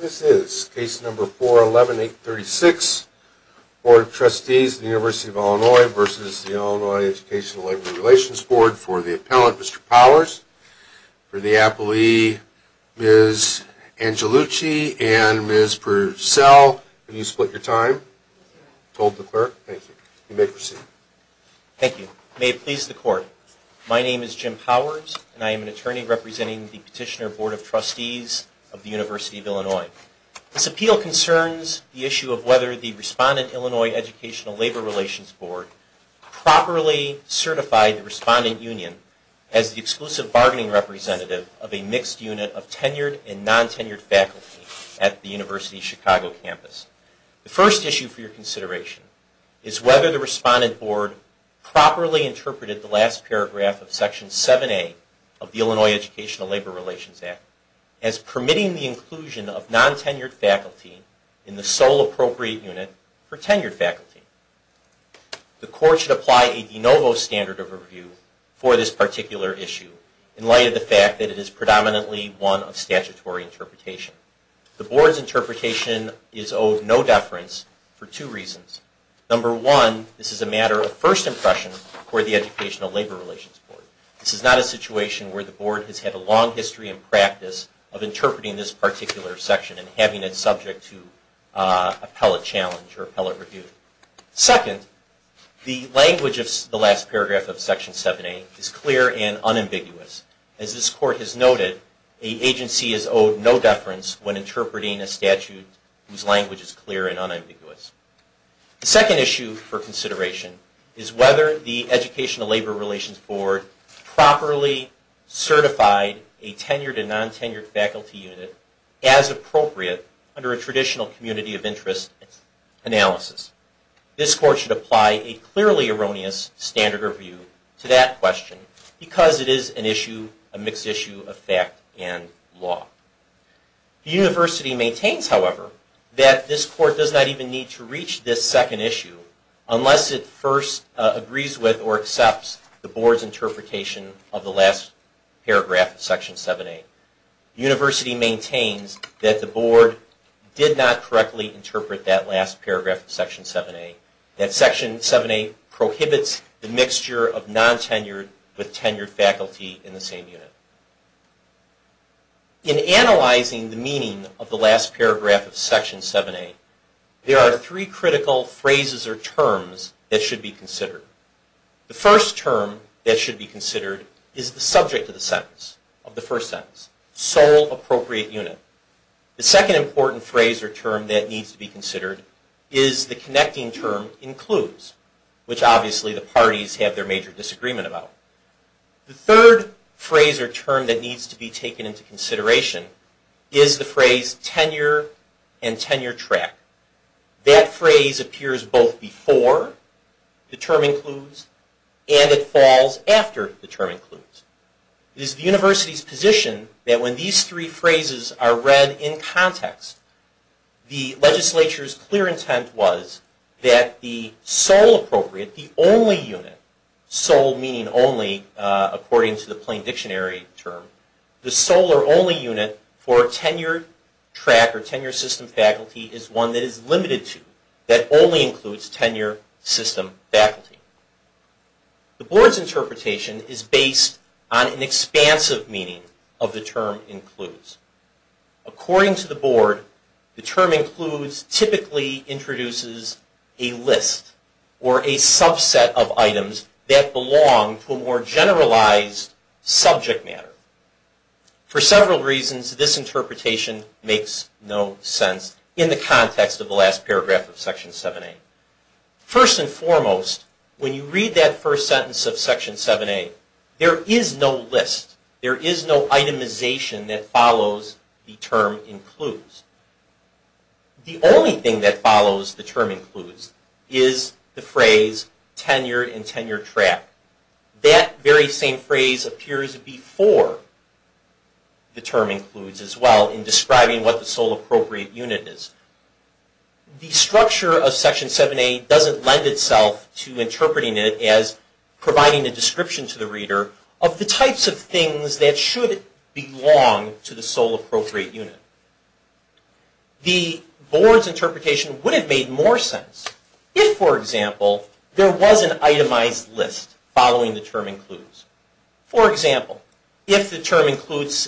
This is case number 411836, Board of Trustees of the University of Illinois v. Illinois Educational Labor Relations Board for the appellant, Mr. Powers. For the appellee, Ms. Angelucci and Ms. Purcell. Can you split your time? Thank you. You may proceed. Thank you. May it please the Court, my name is Jim Powers and I am an attorney representing the Petitioner Board of Trustees of the University of Illinois. This appeal concerns the issue of whether the Respondent Illinois Educational Labor Relations Board properly certified the Respondent Union as the exclusive bargaining representative of a mixed unit of tenured and non-tenured faculty at the University of Chicago campus. The first issue for your consideration is whether the Respondent Board properly interpreted the last paragraph of Section 7A of the Illinois Educational Labor Relations Act as permitting the inclusion of non-tenured faculty in the sole appropriate unit for tenured faculty. The Court should apply a de novo standard of review for this particular issue in light of the fact that it is predominantly one of statutory interpretation. The Board's interpretation is owed no deference for two reasons. Number one, this is a matter of first impression for the Educational Labor Relations Board. This is not a situation where the Board has had a long history and practice of interpreting this particular section and having it subject to appellate challenge or appellate review. Second, the language of the last paragraph of Section 7A is clear and unambiguous. As this Court has noted, an agency is owed no deference when interpreting a statute whose language is clear and unambiguous. The second issue for consideration is whether the Educational Labor Relations Board properly certified a tenured and non-tenured faculty unit as appropriate under a traditional community of interest analysis. This Court should apply a clearly erroneous standard of review to that question because it is a mixed issue of fact and law. The University maintains, however, that this Court does not even need to reach this second issue unless it first agrees with or accepts the Board's interpretation of the last paragraph of Section 7A. The University maintains that the Board did not correctly interpret that last paragraph of Section 7A. That Section 7A prohibits the mixture of non-tenured with tenured faculty in the same unit. In analyzing the meaning of the last paragraph of Section 7A, there are three critical phrases or terms that should be considered. The first term that should be considered is the subject of the first sentence, sole appropriate unit. The second important phrase or term that needs to be considered is the connecting term includes, which obviously the parties have their major disagreement about. The third phrase or term that needs to be taken into consideration is the phrase tenure and tenure track. That phrase appears both before the term includes and it falls after the term includes. It is the University's position that when these three phrases are read in context, the legislature's clear intent was that the sole appropriate, the only unit, sole meaning only according to the plain dictionary term, the sole or only unit for tenure track or tenure system faculty is one that is limited to, that only includes tenure system faculty. The Board's interpretation is based on an expansive meaning of the term includes. According to the Board, the term includes typically introduces a list or a subset of items that belong to a more generalized subject matter. For several reasons, this interpretation makes no sense in the context of the last paragraph of Section 7A. First and foremost, when you read that first sentence of Section 7A, there is no list, there is no itemization that follows the term includes. The only thing that follows the term includes is the phrase tenure and tenure track. That very same phrase appears before the term includes as well in describing what the sole appropriate unit is. The structure of Section 7A doesn't lend itself to interpreting it as providing a description to the reader of the types of things that should belong to the sole appropriate unit. The Board's interpretation would have made more sense if, for example, there was an itemized list following the term includes. For example, if the term includes,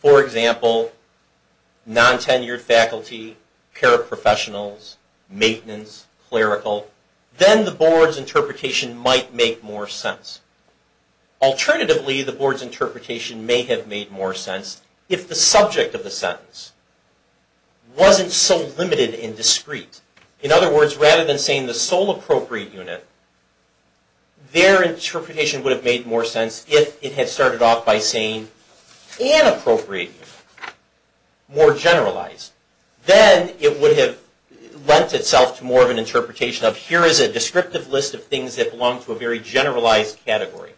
for example, non-tenured faculty, paraprofessionals, maintenance, clerical, then the Board's interpretation might make more sense. Alternatively, the Board's interpretation may have made more sense if the subject of the sentence wasn't so limited and discreet. In other words, rather than saying the sole appropriate unit, their interpretation would have made more sense if it had started off by saying an appropriate unit, more generalized. Then it would have lent itself to more of an interpretation of here is a descriptive list of things that belong to a very generalized category.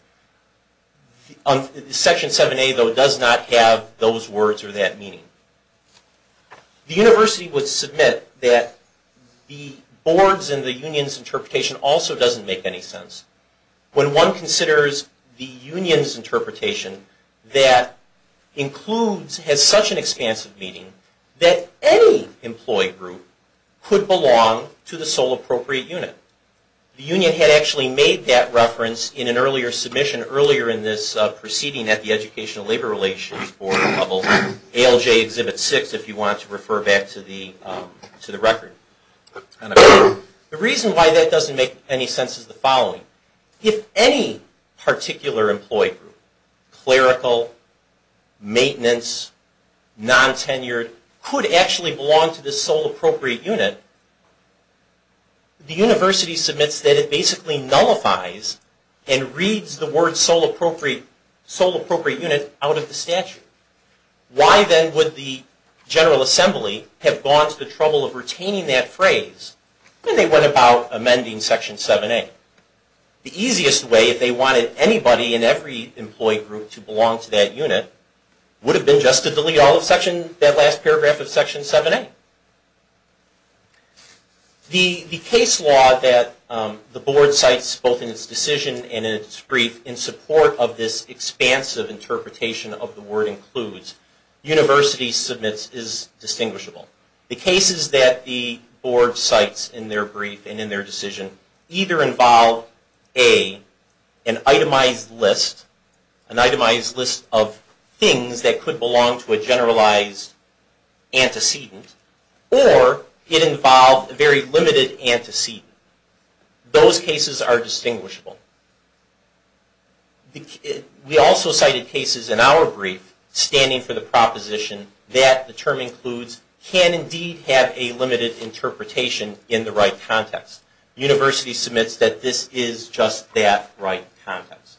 Section 7A, though, does not have those words or that meaning. The University would submit that the Board's and the Union's interpretation also doesn't make any sense. When one considers the Union's interpretation that includes, has such an expansive meaning, that any employee group could belong to the sole appropriate unit. The Union had actually made that reference in an earlier submission, earlier in this proceeding at the Educational Labor Relations Board level, ALJ Exhibit 6, if you want to refer back to the record. The reason why that doesn't make any sense is the following. If any particular employee group, clerical, maintenance, non-tenured, could actually belong to the sole appropriate unit, the University submits that it basically nullifies and reads the word sole appropriate unit out of the statute. Why then would the General Assembly have gone to the trouble of retaining that phrase when they went about amending Section 7A? The easiest way, if they wanted anybody in every employee group to belong to that unit, would have been just to delete that last paragraph of Section 7A. The case law that the Board cites, both in its decision and in its brief, in support of this expansive interpretation of the word includes, University submits is distinguishable. The cases that the Board cites in their brief and in their decision, either involve an itemized list of things that could belong to a generalized antecedent, or it involved a very limited antecedent. Those cases are distinguishable. We also cited cases in our brief standing for the proposition that the term includes can indeed have a limited interpretation in the right context. The University submits that this is just that right context.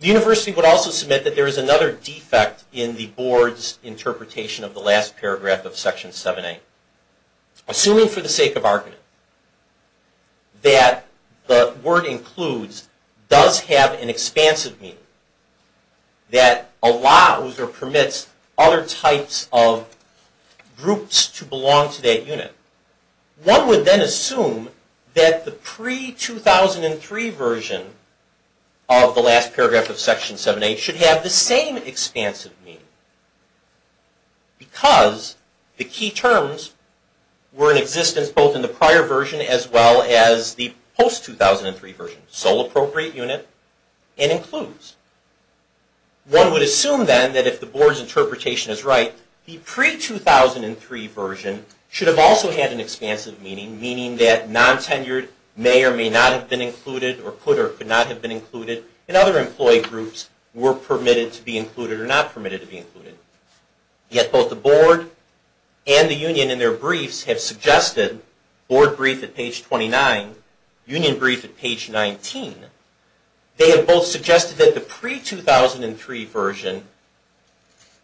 The University would also submit that there is another defect in the Board's interpretation of the last paragraph of Section 7A. Assuming for the sake of argument that the word includes does have an expansive meaning, that allows or permits other types of groups to belong to that unit, one would then assume that the pre-2003 version of the last paragraph of Section 7A should have the same expansive meaning because the key terms were in existence both in the prior version as well as the post-2003 version, sole appropriate unit and includes. One would assume then that if the Board's interpretation is right, the pre-2003 version should have also had an expansive meaning, meaning that non-tenured may or may not have been included or could or could not have been included and other employee groups were permitted to be included or not permitted to be included. Yet both the Board and the Union in their briefs have suggested, Board brief at page 29, Union brief at page 19, they have both suggested that the pre-2003 version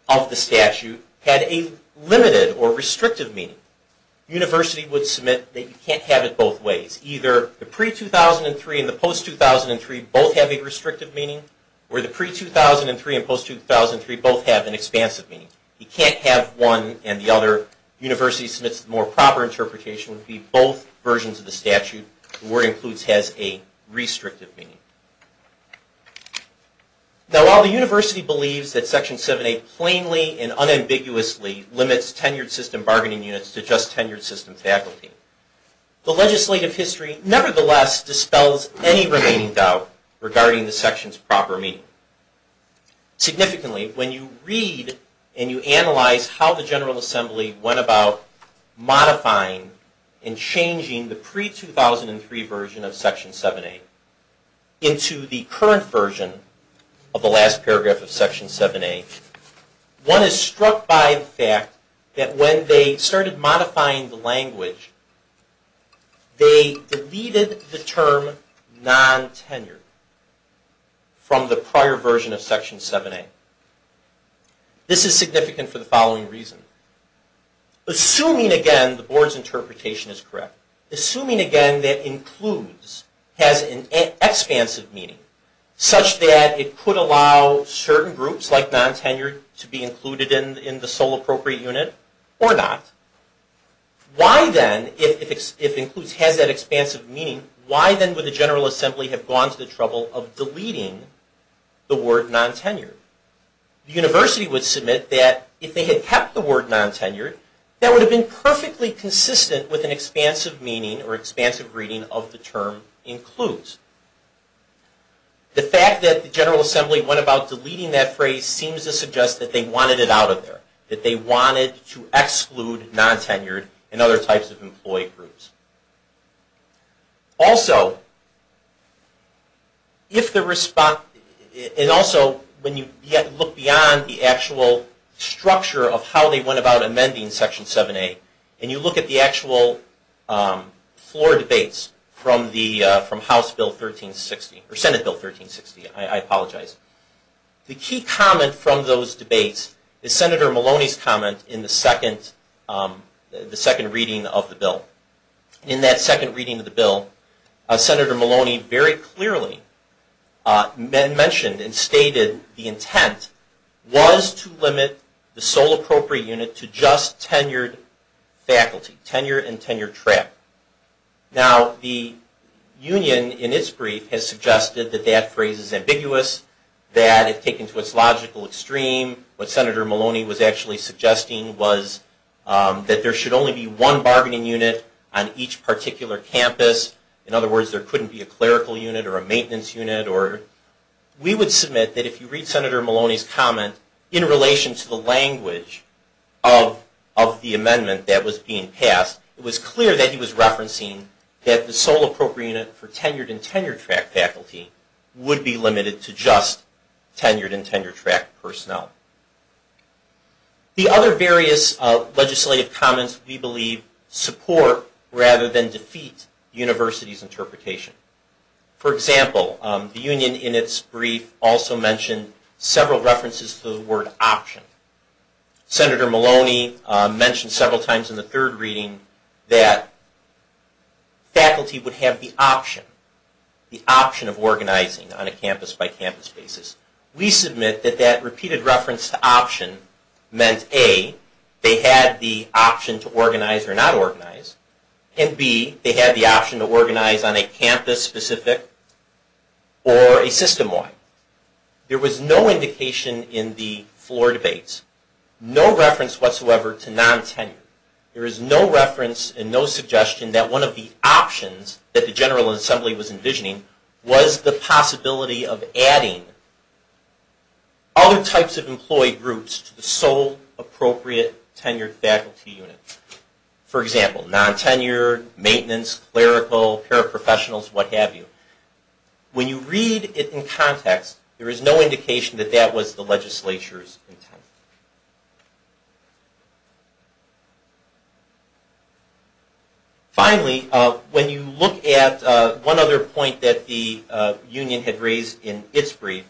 of the statute had a limited or restrictive meaning. The University would submit that you can't have it both ways. It's either the pre-2003 and the post-2003 both have a restrictive meaning or the pre-2003 and post-2003 both have an expansive meaning. You can't have one and the other. The University submits the more proper interpretation would be both versions of the statute. The Board includes has a restrictive meaning. Now while the University believes that Section 7A plainly and unambiguously limits tenured system bargaining units to just tenured system faculty, the legislative history nevertheless dispels any remaining doubt regarding the section's proper meaning. Significantly, when you read and you analyze how the General Assembly went about modifying and changing the pre-2003 version of Section 7A into the current version of the last paragraph of Section 7A, one is struck by the fact that when they started modifying the language, they deleted the term non-tenured from the prior version of Section 7A. This is significant for the following reason. Assuming again the Board's interpretation is correct, assuming again that includes has an expansive meaning, such that it could allow certain groups, like non-tenured, to be included in the sole appropriate unit or not, why then, if includes has that expansive meaning, why then would the General Assembly have gone to the trouble of deleting the word non-tenured? The University would submit that if they had kept the word non-tenured, that would have been perfectly consistent with an expansive meaning or expansive reading of the term includes. The fact that the General Assembly went about deleting that phrase seems to suggest that they wanted it out of there. That they wanted to exclude non-tenured and other types of employee groups. Also, when you look beyond the actual structure of how they went about amending Section 7A, and you look at the actual floor debates from House Bill 1360, or Senate Bill 1360, I apologize, the key comment from those debates is Senator Maloney's comment in the second reading of the bill. In that second reading of the bill, Senator Maloney very clearly mentioned and stated the intent was to limit the sole appropriate unit to just tenured faculty, tenure and tenure track. Now, the union in its brief has suggested that that phrase is ambiguous, that if taken to its logical extreme, what Senator Maloney was actually suggesting was that there should only be one bargaining unit on each particular campus. In other words, there couldn't be a clerical unit or a maintenance unit. We would submit that if you read Senator Maloney's comment in relation to the language of the amendment that was being passed, it was clear that he was referencing that the sole appropriate unit for tenured and tenure track faculty would be limited to just tenured and tenure track personnel. The other various legislative comments, we believe, support rather than defeat the University's interpretation. For example, the union in its brief also mentioned several references to the word option. Senator Maloney mentioned several times in the third reading that faculty would have the option, the option of organizing on a campus-by-campus basis. We submit that that repeated reference to option meant A, they had the option to organize or not organize, and B, they had the option to organize on a campus-specific or a system-wide. There was no indication in the floor debates, no reference whatsoever to non-tenure. There is no reference and no suggestion that one of the options that the General Assembly was envisioning was the possibility of adding other types of employee groups to the sole appropriate tenured faculty unit. For example, non-tenured, maintenance, clerical, paraprofessionals, what have you. When you read it in context, there is no indication that that was the legislature's intent. Finally, when you look at one other point that the union had raised in its brief,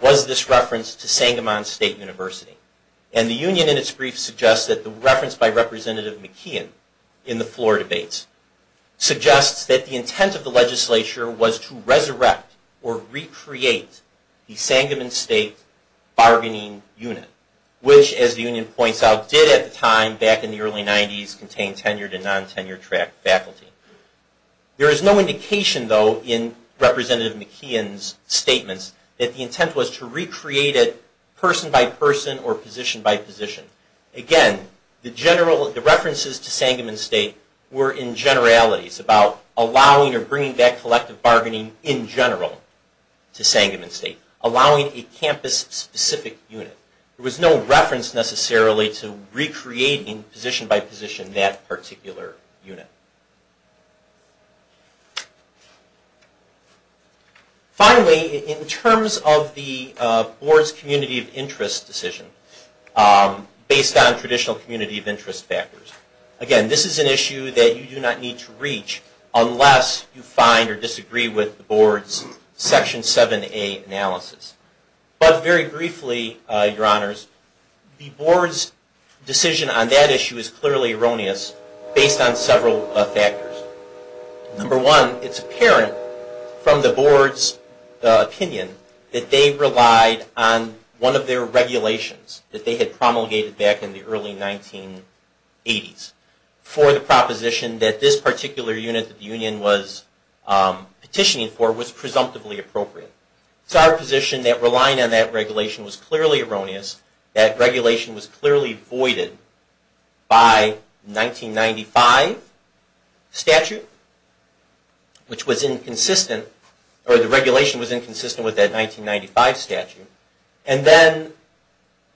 was this reference to Sangamon State University. And the union in its brief suggests that the reference by Representative McKeon in the floor debates suggests that the intent of the legislature was to resurrect or recreate the Sangamon State bargaining unit, which as the union points out did at the time back in the early 90s contain tenured and non-tenured faculty. There is no indication though in Representative McKeon's statements that the intent was to recreate it person by person or position by position. Again, the references to Sangamon State were in generalities about allowing or bringing back collective bargaining in general to Sangamon State. Allowing a campus specific unit. There was no reference necessarily to recreating position by position that particular unit. Finally, in terms of the board's community of interest decision based on traditional community of interest factors. Again, this is an issue that you do not need to reach unless you find or disagree with the board's Section 7a analysis. But very briefly, your honors, the board's decision on that issue is clearly erroneous based on several factors. Number one, it's apparent from the board's opinion that they relied on one of their regulations that they had promulgated back in the early 1980s for the proposition that this particular unit that the union was petitioning for was presumptively appropriate. It's our position that relying on that regulation was clearly erroneous, that regulation was clearly voided by 1995 statute, which was inconsistent, or the regulation was inconsistent with that 1995 statute. And then,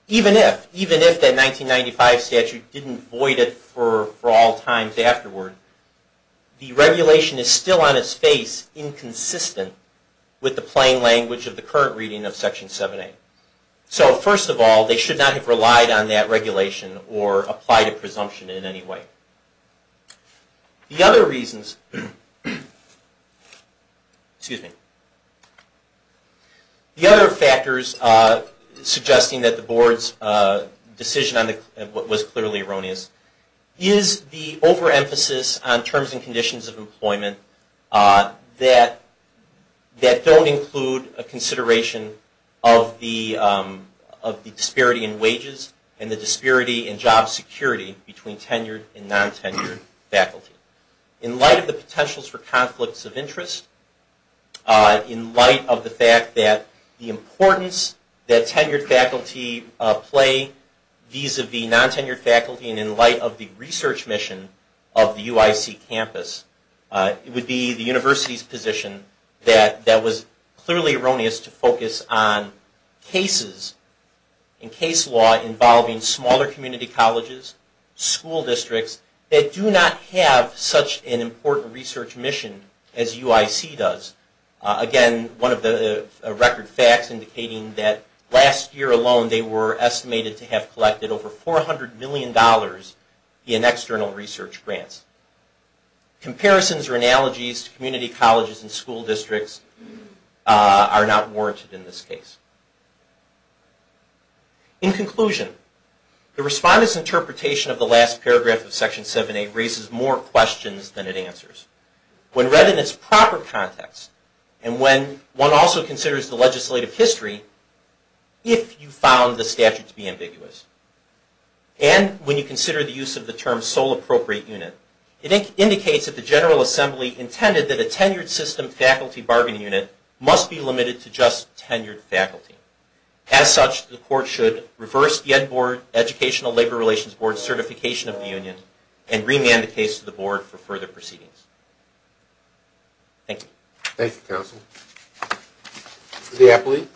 even if that 1995 statute didn't void it for all times afterward, the regulation is still on its face inconsistent with the plain language of the current reading of Section 7a. So, first of all, they should not have relied on that regulation or applied a presumption in any way. The other factors suggesting that the board's decision was clearly erroneous is the overemphasis on terms and conditions of employment that don't include a consideration of the disparity in wages and the disparity in job security between tenured and non-tenured faculty. In light of the potentials for conflicts of interest, in light of the fact that the importance that tenured faculty play vis-a-vis non-tenured faculty, and in light of the research mission of the UIC campus, it would be the university's position that that was clearly erroneous to focus on cases and case law involving smaller community colleges, school districts that do not have such an important research mission as UIC does. Again, one of the record facts indicating that last year alone they were estimated to have collected over $400 million in external research grants. Comparisons or analogies to community colleges and school districts are not warranted in this case. In conclusion, the respondent's interpretation of the last paragraph of Section 7a raises more questions than it answers. When read in its proper context, and when one also considers the legislative history, if you found the statute to be ambiguous, and when you consider the use of the term sole appropriate unit, it indicates that the General Assembly intended that a tenured system faculty bargaining unit must be limited to just tenured faculty. As such, the Court should reverse the Ed Board, Educational Labor Relations Board certification of the union, and remand the case to the Board for further proceedings. Thank you. Thank you, Counsel. The appellee.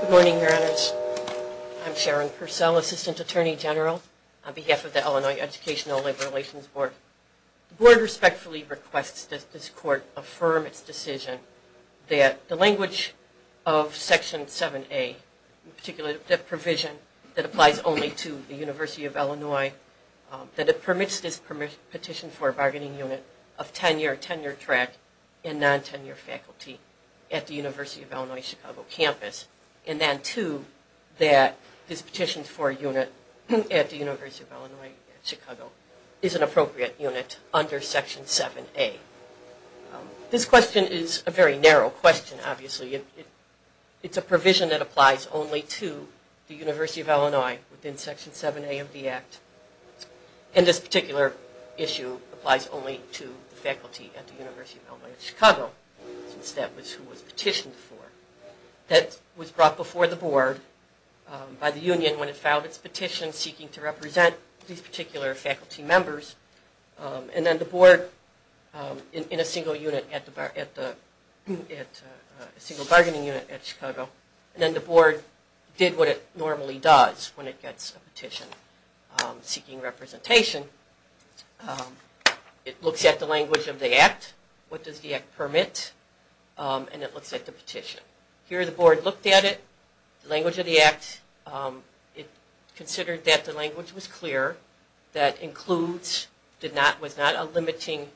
Good morning, Your Honors. I'm Sharon Purcell, Assistant Attorney General on behalf of the Illinois Educational Labor Relations Board. The Board respectfully requests that this Court affirm its decision that the language of Section 7a, in particular the provision that applies only to the University of Illinois, that it permits this petition for a bargaining unit of tenured track and non-tenured faculty at the University of Illinois Chicago campus, and then two, that this petition for a unit at the University of Illinois Chicago is an appropriate unit under Section 7a. This question is a very narrow question, obviously. It's a provision that applies only to the University of Illinois within Section 7a of the Act, and this particular issue applies only to the faculty at the University of Illinois Chicago, since that was who it was petitioned for. That was brought before the Board by the union when it filed its petition seeking to represent these particular faculty members, and then the Board, in a single unit, a single bargaining unit at Chicago, and then the Board did what it normally does when it gets a petition seeking representation. It looks at the language of the Act, what does the Act permit, and it looks at the petition. Here the Board looked at it, the language of the Act, it considered that the language was clear, that includes was not a limiting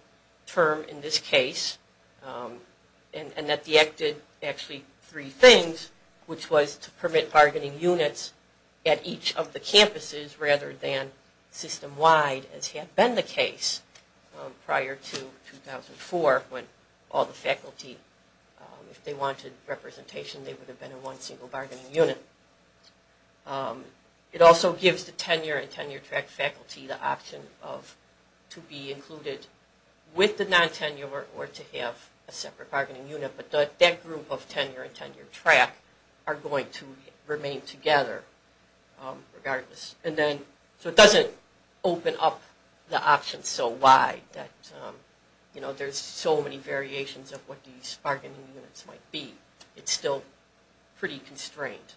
term in this case, and that the Act did actually three things, which was to permit bargaining units at each of the campuses rather than system-wide, as had been the case prior to 2004 when all the faculty, if they wanted representation, they would have been in one single bargaining unit. It also gives the tenure and tenure-track faculty the option to be included with the non-tenure or to have a separate bargaining unit, but that group of tenure and tenure-track are going to remain together regardless. It doesn't open up the options so wide that there's so many variations of what these bargaining units might be. It's still pretty constrained.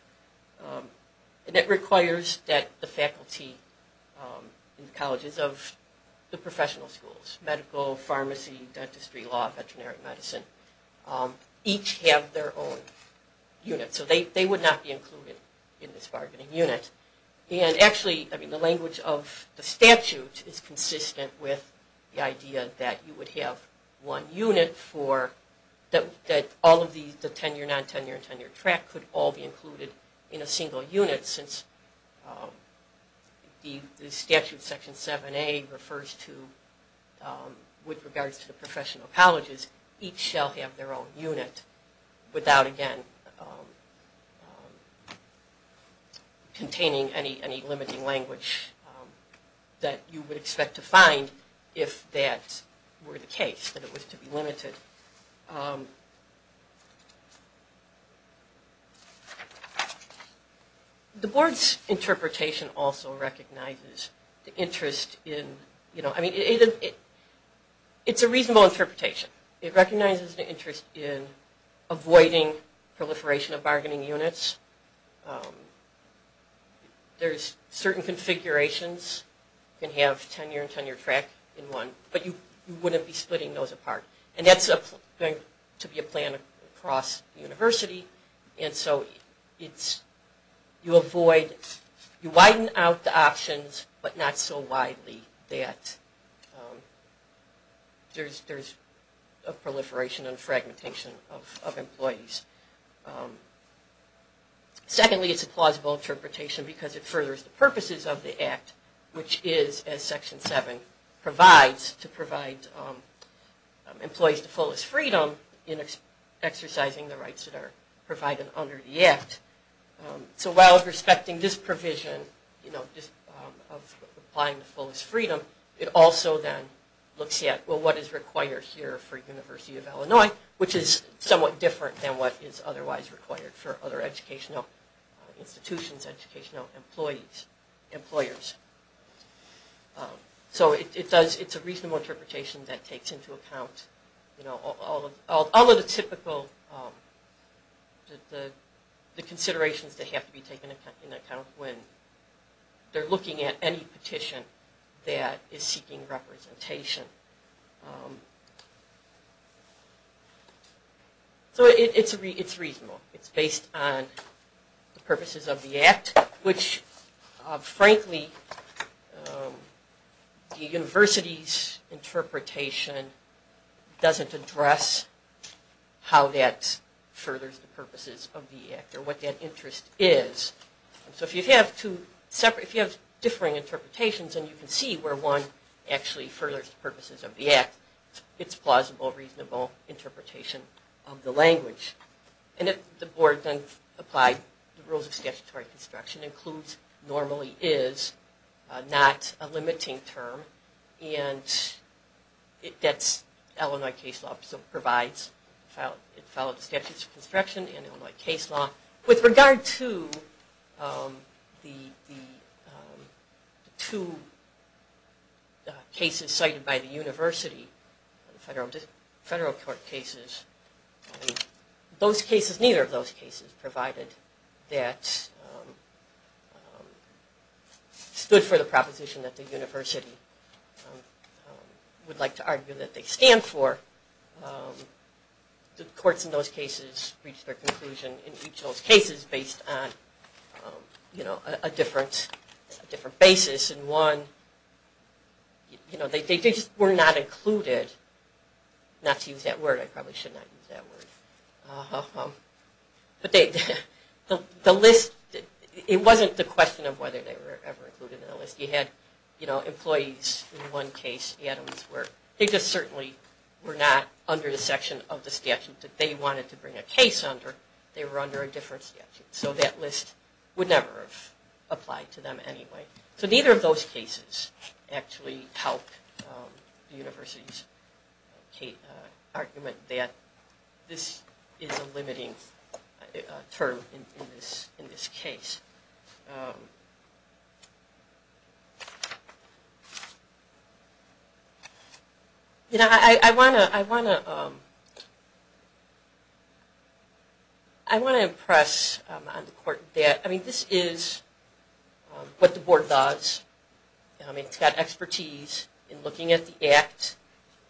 It requires that the faculty in the colleges of the professional schools, medical, pharmacy, dentistry, law, veterinary medicine, each have their own unit. They would not be included in this bargaining unit. Actually, the language of the statute is consistent with the idea that you would have one unit that all of the tenure, non-tenure, and tenure-track could all be included in a single unit since the statute section 7A refers to, with regards to the professional colleges, each shall have their own unit without, again, containing any limiting language that you would expect to find if that were the case, that it was to be limited. The board's interpretation also recognizes the interest in, I mean, it's a reasonable interpretation. It recognizes the interest in avoiding proliferation of bargaining units. There's certain configurations. You can have tenure and tenure-track in one, but you wouldn't be splitting those apart. And that's going to be a plan across the university. And so you avoid, you widen out the options, but not so widely that there's a proliferation and fragmentation of employees. Secondly, it's a plausible interpretation because it furthers the purposes of the Act, which is, as Section 7 provides, to provide employees the fullest freedom in exercising the rights that are provided under the Act. So while respecting this provision of applying the fullest freedom, it also then looks at, well, what is required here for the University of Illinois, which is somewhat different than what is otherwise required for other educational institutions, educational employees, employers. So it's a reasonable interpretation that takes into account all of the typical considerations that have to be taken into account when they're looking at any petition that is seeking representation. So it's reasonable. It's based on the purposes of the Act, which, frankly, the university's interpretation doesn't address how that furthers the purposes of the Act or what that interest is. So if you have two separate, if you have differing interpretations, and you can see where one actually furthers the purposes of the Act, it's plausible, reasonable interpretation of the language. And if the board then applied the rules of statutory construction, includes, normally is, not a limiting term, and it gets Illinois case law, so it provides, it follows the statutes of construction and Illinois case law. With regard to the two cases cited by the university, federal court cases, those cases, neither of those cases, provided that stood for the proposition that the university would like to argue that they stand for, the courts in those cases reached their conclusion in each of those cases based on a different basis. And one, they just were not included, not to use that word, I probably should not use that word. But the list, it wasn't the question of whether they were ever included in the list. You had employees in one case, Adams, where they just certainly were not under the section of the statute that they wanted to bring a case under. They were under a different statute. So that list would never have applied to them anyway. So neither of those cases actually helped the university's argument that this is a limiting term in this case. You know, I want to impress on the court that, I mean, this is what the board does. I mean, it's got expertise in looking at the act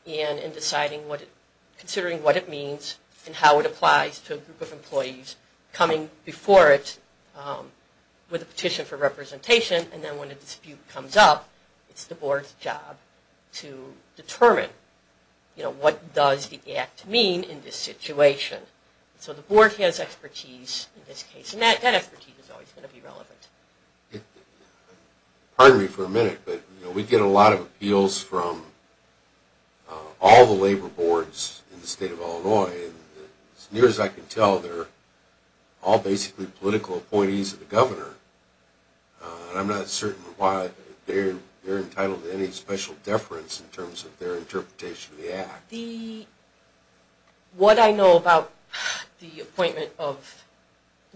and in deciding what it, considering what it means and how it applies to a group of employees coming before it with a petition for representation and then when a dispute comes up, it's the board's job to determine, you know, what does the act mean in this situation. So the board has expertise in this case, and that expertise is always going to be relevant. Pardon me for a minute, but we get a lot of appeals from all the labor boards in the state of Illinois, and as near as I can tell, they're all basically political appointees of the governor. I'm not certain why they're entitled to any special deference in terms of their interpretation of the act. The, what I know about the appointment of,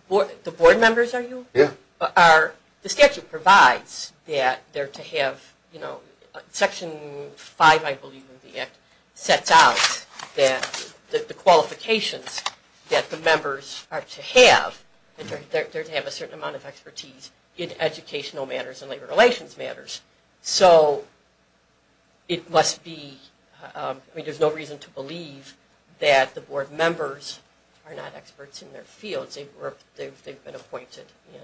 the board members are you? Yeah. Are, the statute provides that they're to have, you know, Section 5 I believe of the act sets out that the qualifications that the members are to have, that they're to have a certain amount of expertise in educational matters and labor relations matters. So it must be, I mean, there's no reason to believe that the board members are not experts in their fields. They've been appointed, and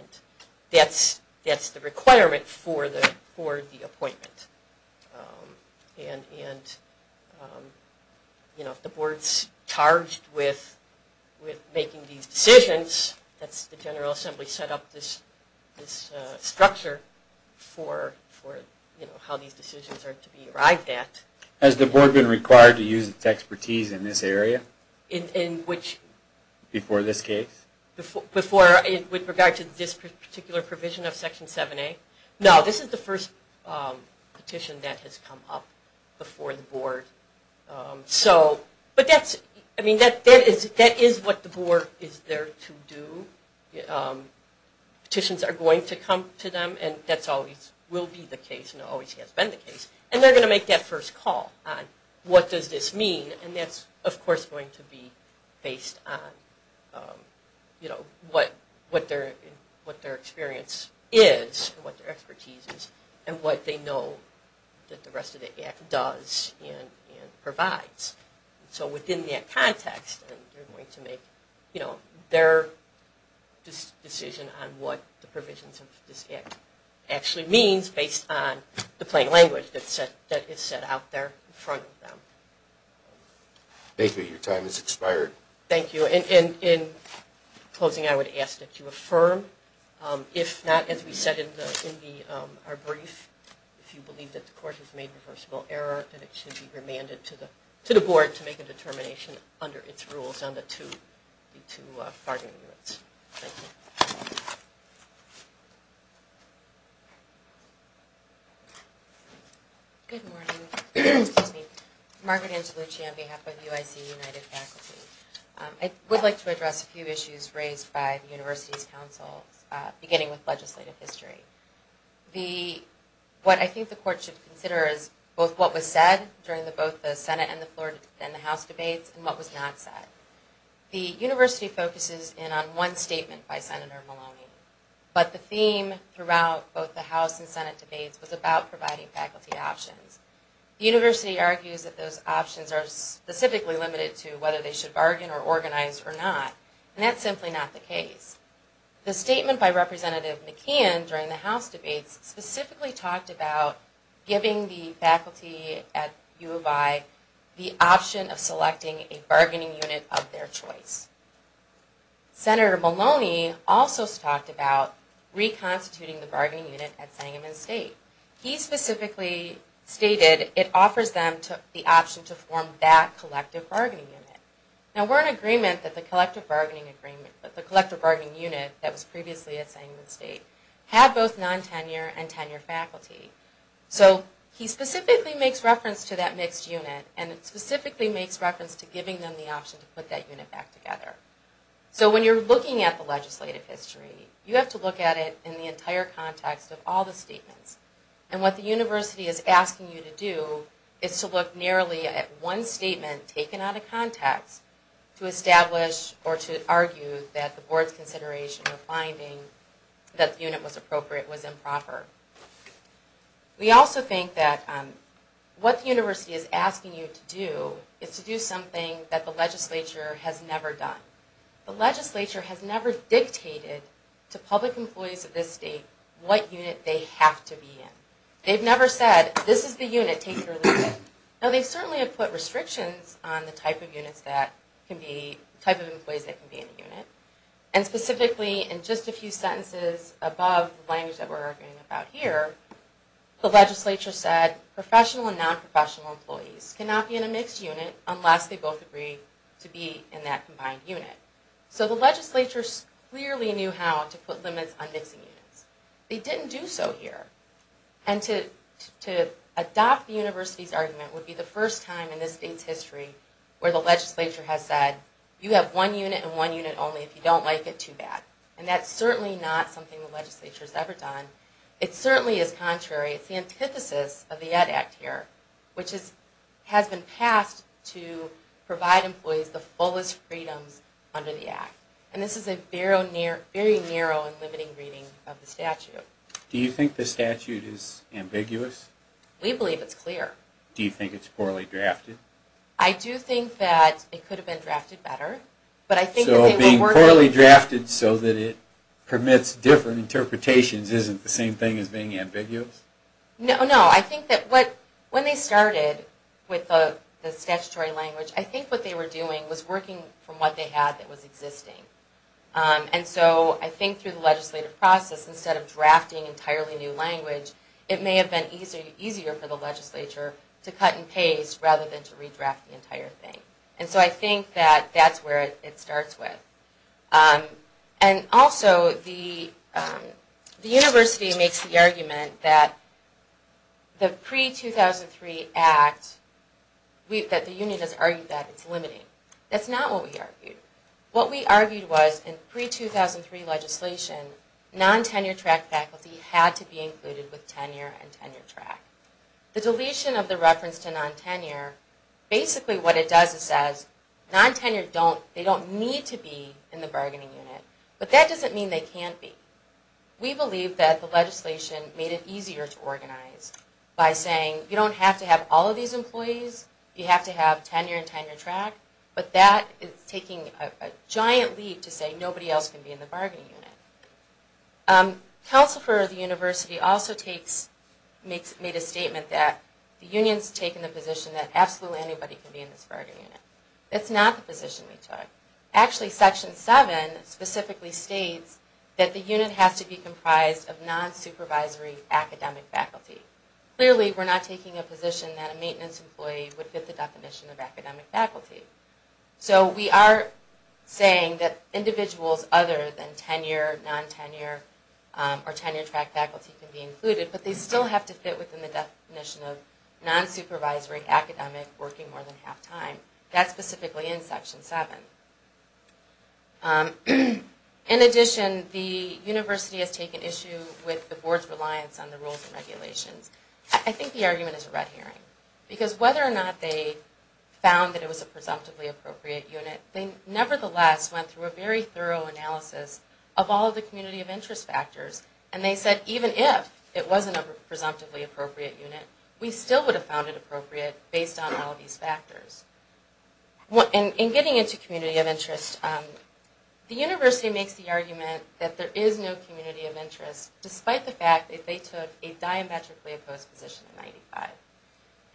that's the requirement for the appointment. And, you know, if the board's charged with making these decisions, that's the General Assembly set up this structure for, you know, how these decisions are to be arrived at. Has the board been required to use its expertise in this area? In which? Before this case? Before, with regard to this particular provision of Section 7A? No, this is the first petition that has come up before the board. So, but that's, I mean, that is what the board is there to do. Petitions are going to come to them, and that's always, will be the case, and always has been the case. And they're going to make that first call on what does this mean? And that's, of course, going to be based on, you know, what their experience is and what their expertise is and what they know that the rest of the Act does and provides. So within that context, they're going to make, you know, their decision on what the provisions of this Act actually means based on the plain language that is set out there in front of them. Thank you. Your time has expired. Thank you. In closing, I would ask that you affirm, if not, as we said in our brief, if you believe that the Court has made reversible error, that it should be remanded to the board to make a determination under its rules on the two bargaining units. Thank you. Good morning. Margaret Angelucci on behalf of UIC United Faculty. I would like to address a few issues raised by the University's Council, beginning with legislative history. What I think the Court should consider is both what was said during both the Senate and the House debates and what was not said. The University focuses in on one statement by Senator Maloney, but the theme throughout both the House and Senate debates was about providing faculty options. The University argues that those options are specifically limited to whether they should bargain or organize or not, and that's simply not the case. The statement by Representative McCann during the House debates specifically talked about giving the faculty at U of I the option of selecting a bargaining unit of their choice. Senator Maloney also talked about reconstituting the bargaining unit at Sangamon State. He specifically stated it offers them the option to form that collective bargaining unit. Now, we're in agreement that the collective bargaining unit that was previously at Sangamon State had both non-tenure and tenure faculty. So he specifically makes reference to that mixed unit, and it specifically makes reference to giving them the option to put that unit back together. So when you're looking at the legislative history, you have to look at it in the entire context of all the statements. And what the University is asking you to do is to look nearly at one statement taken out of context to establish or to argue that the board's consideration of finding that the unit was appropriate was improper. We also think that what the University is asking you to do is to do something that the legislature has never done. The legislature has never dictated to public employees of this state what unit they have to be in. They've never said, this is the unit, take it or leave it. Now, they certainly have put restrictions on the type of employees that can be in a unit. And specifically, in just a few sentences above the language that we're arguing about here, the legislature said professional and non-professional employees cannot be in a mixed unit unless they both agree to be in that combined unit. So the legislature clearly knew how to put limits on mixing units. They didn't do so here. And to adopt the University's argument would be the first time in this state's history where the legislature has said, you have one unit and one unit only if you don't like it too bad. And that's certainly not something the legislature has ever done. It certainly is contrary. It's the antithesis of the Ed Act here, which has been passed to provide employees the fullest freedoms under the Act. And this is a very narrow and limiting reading of the statute. Do you think the statute is ambiguous? We believe it's clear. Do you think it's poorly drafted? I do think that it could have been drafted better. So being poorly drafted so that it permits different interpretations isn't the same thing as being ambiguous? No, no. I think that when they started with the statutory language, I think what they were doing was working from what they had that was existing. And so I think through the legislative process, instead of drafting entirely new language, it may have been easier for the legislature to cut and paste rather than to redraft the entire thing. And so I think that that's where it starts with. And also, the university makes the argument that the pre-2003 Act, that the union has argued that it's limiting. That's not what we argued. What we argued was in pre-2003 legislation, non-tenure track faculty had to be included with tenure and tenure track. The deletion of the reference to non-tenure, basically what it does is non-tenure, they don't need to be in the bargaining unit, but that doesn't mean they can't be. We believe that the legislation made it easier to organize by saying, you don't have to have all of these employees, you have to have tenure and tenure track, but that is taking a giant leap to say nobody else can be in the bargaining unit. Council for the university also made a statement that the union's taken the position that absolutely anybody can be in this bargaining unit. That's not the position we took. Actually, Section 7 specifically states that the unit has to be comprised of non-supervisory academic faculty. Clearly, we're not taking a position that a maintenance employee would fit the definition of academic faculty. So we are saying that individuals other than tenure, non-tenure, or tenure track faculty can be included, but they still have to fit within the definition of non-supervisory academic working more than half time. That's specifically in Section 7. In addition, the university has taken issue with the board's reliance on the rules and regulations. I think the argument is a red herring, because whether or not they found that it was a presumptively appropriate unit, they nevertheless went through a very thorough analysis of all of the community of interest factors, and they said even if it wasn't a presumptively appropriate unit, we still would have found it appropriate based on all of these factors. In getting into community of interest, the university makes the argument that there is no community of interest, despite the fact that they took a diametrically opposed position in 1995.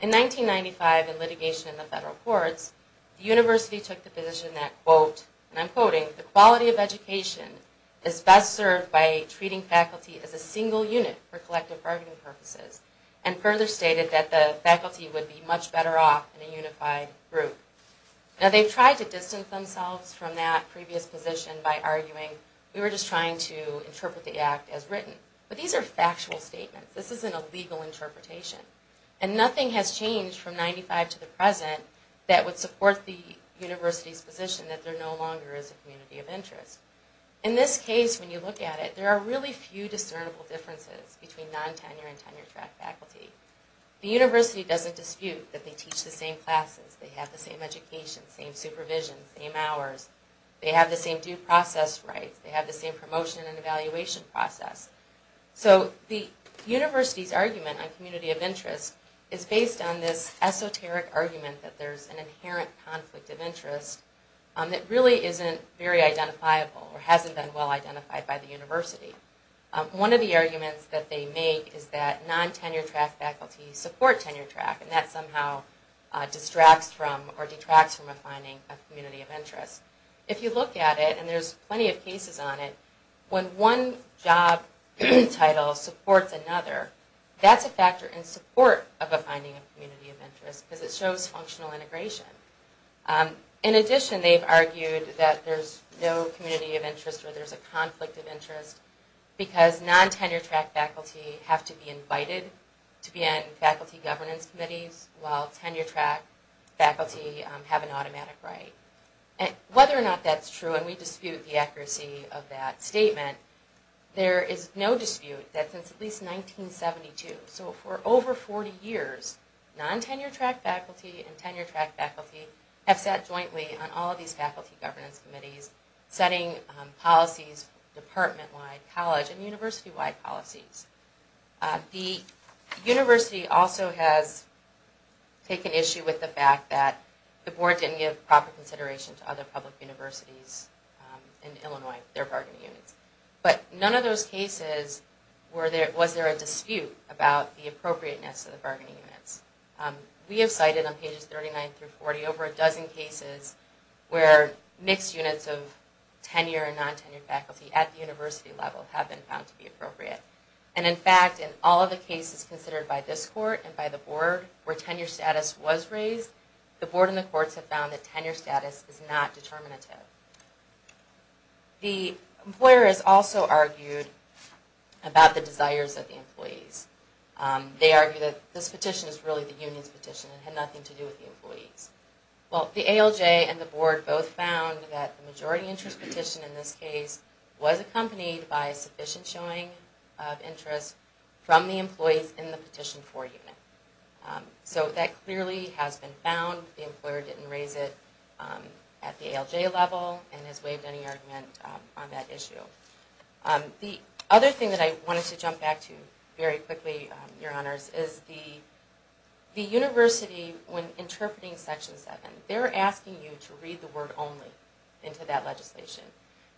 In 1995, in litigation in the federal courts, the university took the position that, quote, and I'm quoting, the quality of education is best served by treating faculty as a single unit for collective bargaining purposes, and further stated that the faculty would be much better off in a unified group. Now they've tried to distance themselves from that previous position by arguing we were just trying to interpret the act as written. But these are factual statements. This isn't a legal interpretation. And nothing has changed from 1995 to the present that would support the university's position that there no longer is a community of interest. In this case, when you look at it, there are really few discernible differences between non-tenure and tenure-track faculty. The university doesn't dispute that they teach the same classes, they have the same education, same supervision, same hours, they have the same due process rights, they have the same promotion and evaluation process. So the university's argument on community of interest is based on this esoteric argument that there's an inherent conflict of interest that really isn't very identifiable or hasn't been well-identified by the university. One of the arguments that they make is that non-tenure-track faculty support tenure-track, and that somehow distracts from or detracts from defining a community of interest. If you look at it, and there's plenty of cases on it, when one job title supports another, that's a factor in support of defining a community of interest because it shows functional integration. In addition, they've argued that there's no community of interest or there's a conflict of interest because non-tenure-track faculty have to be invited to be on faculty governance committees while tenure-track faculty have an automatic right. Whether or not that's true, and we dispute the accuracy of that statement, there is no dispute that since at least 1972, so for over 40 years, non-tenure-track faculty and tenure-track faculty have sat jointly on all of these faculty governance committees setting policies department-wide, college- and university-wide policies. The university also has taken issue with the fact that the board didn't give proper consideration to other public universities in Illinois, their bargaining units. But none of those cases was there a dispute about the appropriateness of the bargaining units. We have cited on pages 39 through 40 over a dozen cases where mixed units of tenure and non-tenure faculty at the university level have been found to be appropriate. And in fact, in all of the cases considered by this court and by the board where tenure status was raised, the board and the courts have found that tenure status is not determinative. The employer has also argued about the desires of the employees. They argue that this petition is really the union's petition and had nothing to do with the employees. Well, the ALJ and the board both found that the majority interest petition in this case was accompanied by sufficient showing of interest from the employees in the petition for unit. So that clearly has been found. The employer didn't raise it at the ALJ level and has waived any argument on that issue. The other thing that I wanted to jump back to very quickly, Your Honors, is the university, when interpreting Section 7, they're asking you to read the word only into that legislation.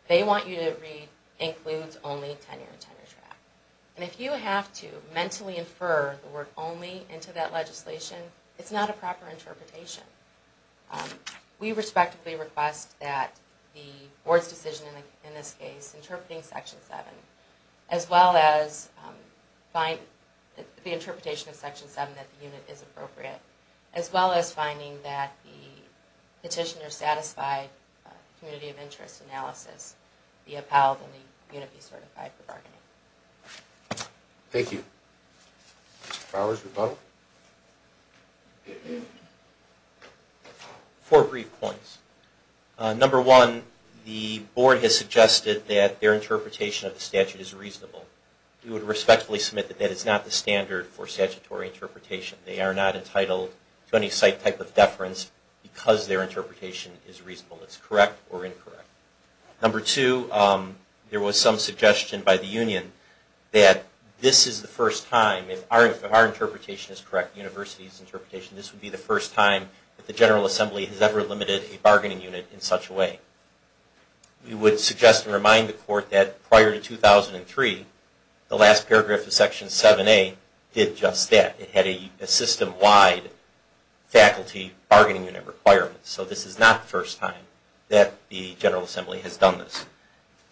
They want you to read, includes only tenure and tenure track. And if you have to mentally infer the word only into that legislation, it's not a proper interpretation. We respectively request that the board's decision in this case, interpreting Section 7, as well as the interpretation of Section 7 that the unit is appropriate, as well as finding that the petitioner's satisfied community of interest analysis be upheld and the unit be certified for bargaining. Thank you. Mr. Fowers, rebuttal. Four brief points. Number one, the board has suggested that their interpretation of the statute is reasonable. We would respectfully submit that that is not the standard for statutory interpretation. They are not entitled to any site type of deference because their interpretation is reasonable. It's correct or incorrect. Number two, there was some suggestion by the union that this is the first time, if our interpretation is correct, the university's interpretation, this would be the first time that the General Assembly has ever limited a bargaining unit in such a way. We would suggest and remind the court that prior to 2003, the last paragraph of Section 7A did just that. It had a system-wide faculty bargaining unit requirement. So this is not the first time that the General Assembly has done this.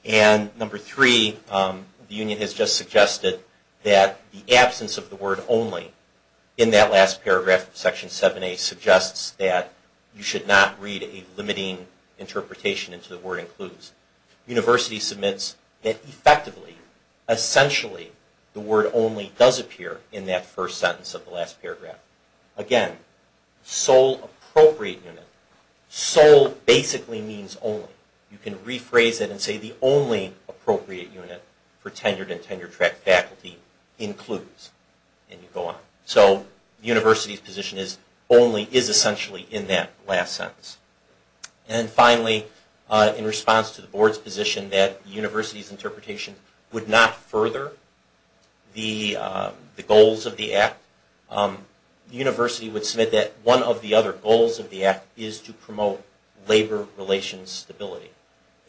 And number three, the union has just suggested that the absence of the word only in that last paragraph of Section 7A suggests that you should not read a limiting interpretation into the word includes. University submits that effectively, essentially, the word only does appear in that first sentence of the last paragraph. Again, sole appropriate unit. Sole basically means only. You can rephrase it and say the only appropriate unit for tenured and tenure-track faculty includes, and you go on. So the university's position is only, is essentially in that last sentence. And finally, in response to the board's position that the university's the university would submit that one of the other goals of the act is to promote labor relations stability.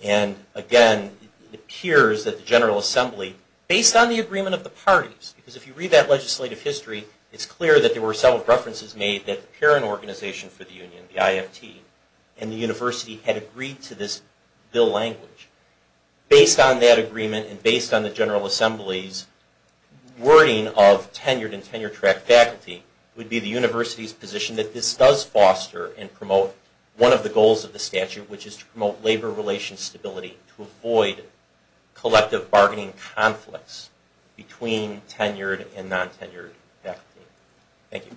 And again, it appears that the General Assembly, based on the agreement of the parties, because if you read that legislative history, it's clear that there were several references made that the parent organization for the union, the IFT, and the university had agreed to this bill language. Based on that agreement and based on the General Assembly's wording of tenured and tenure-track faculty, it would be the university's position that this does foster and promote one of the goals of the statute, which is to promote labor relations stability to avoid collective bargaining conflicts between tenured and non-tenured faculty. Thank you.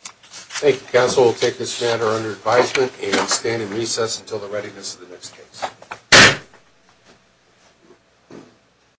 Thank you, counsel. We'll take this matter under advisement and stand in recess until the readiness of the next case.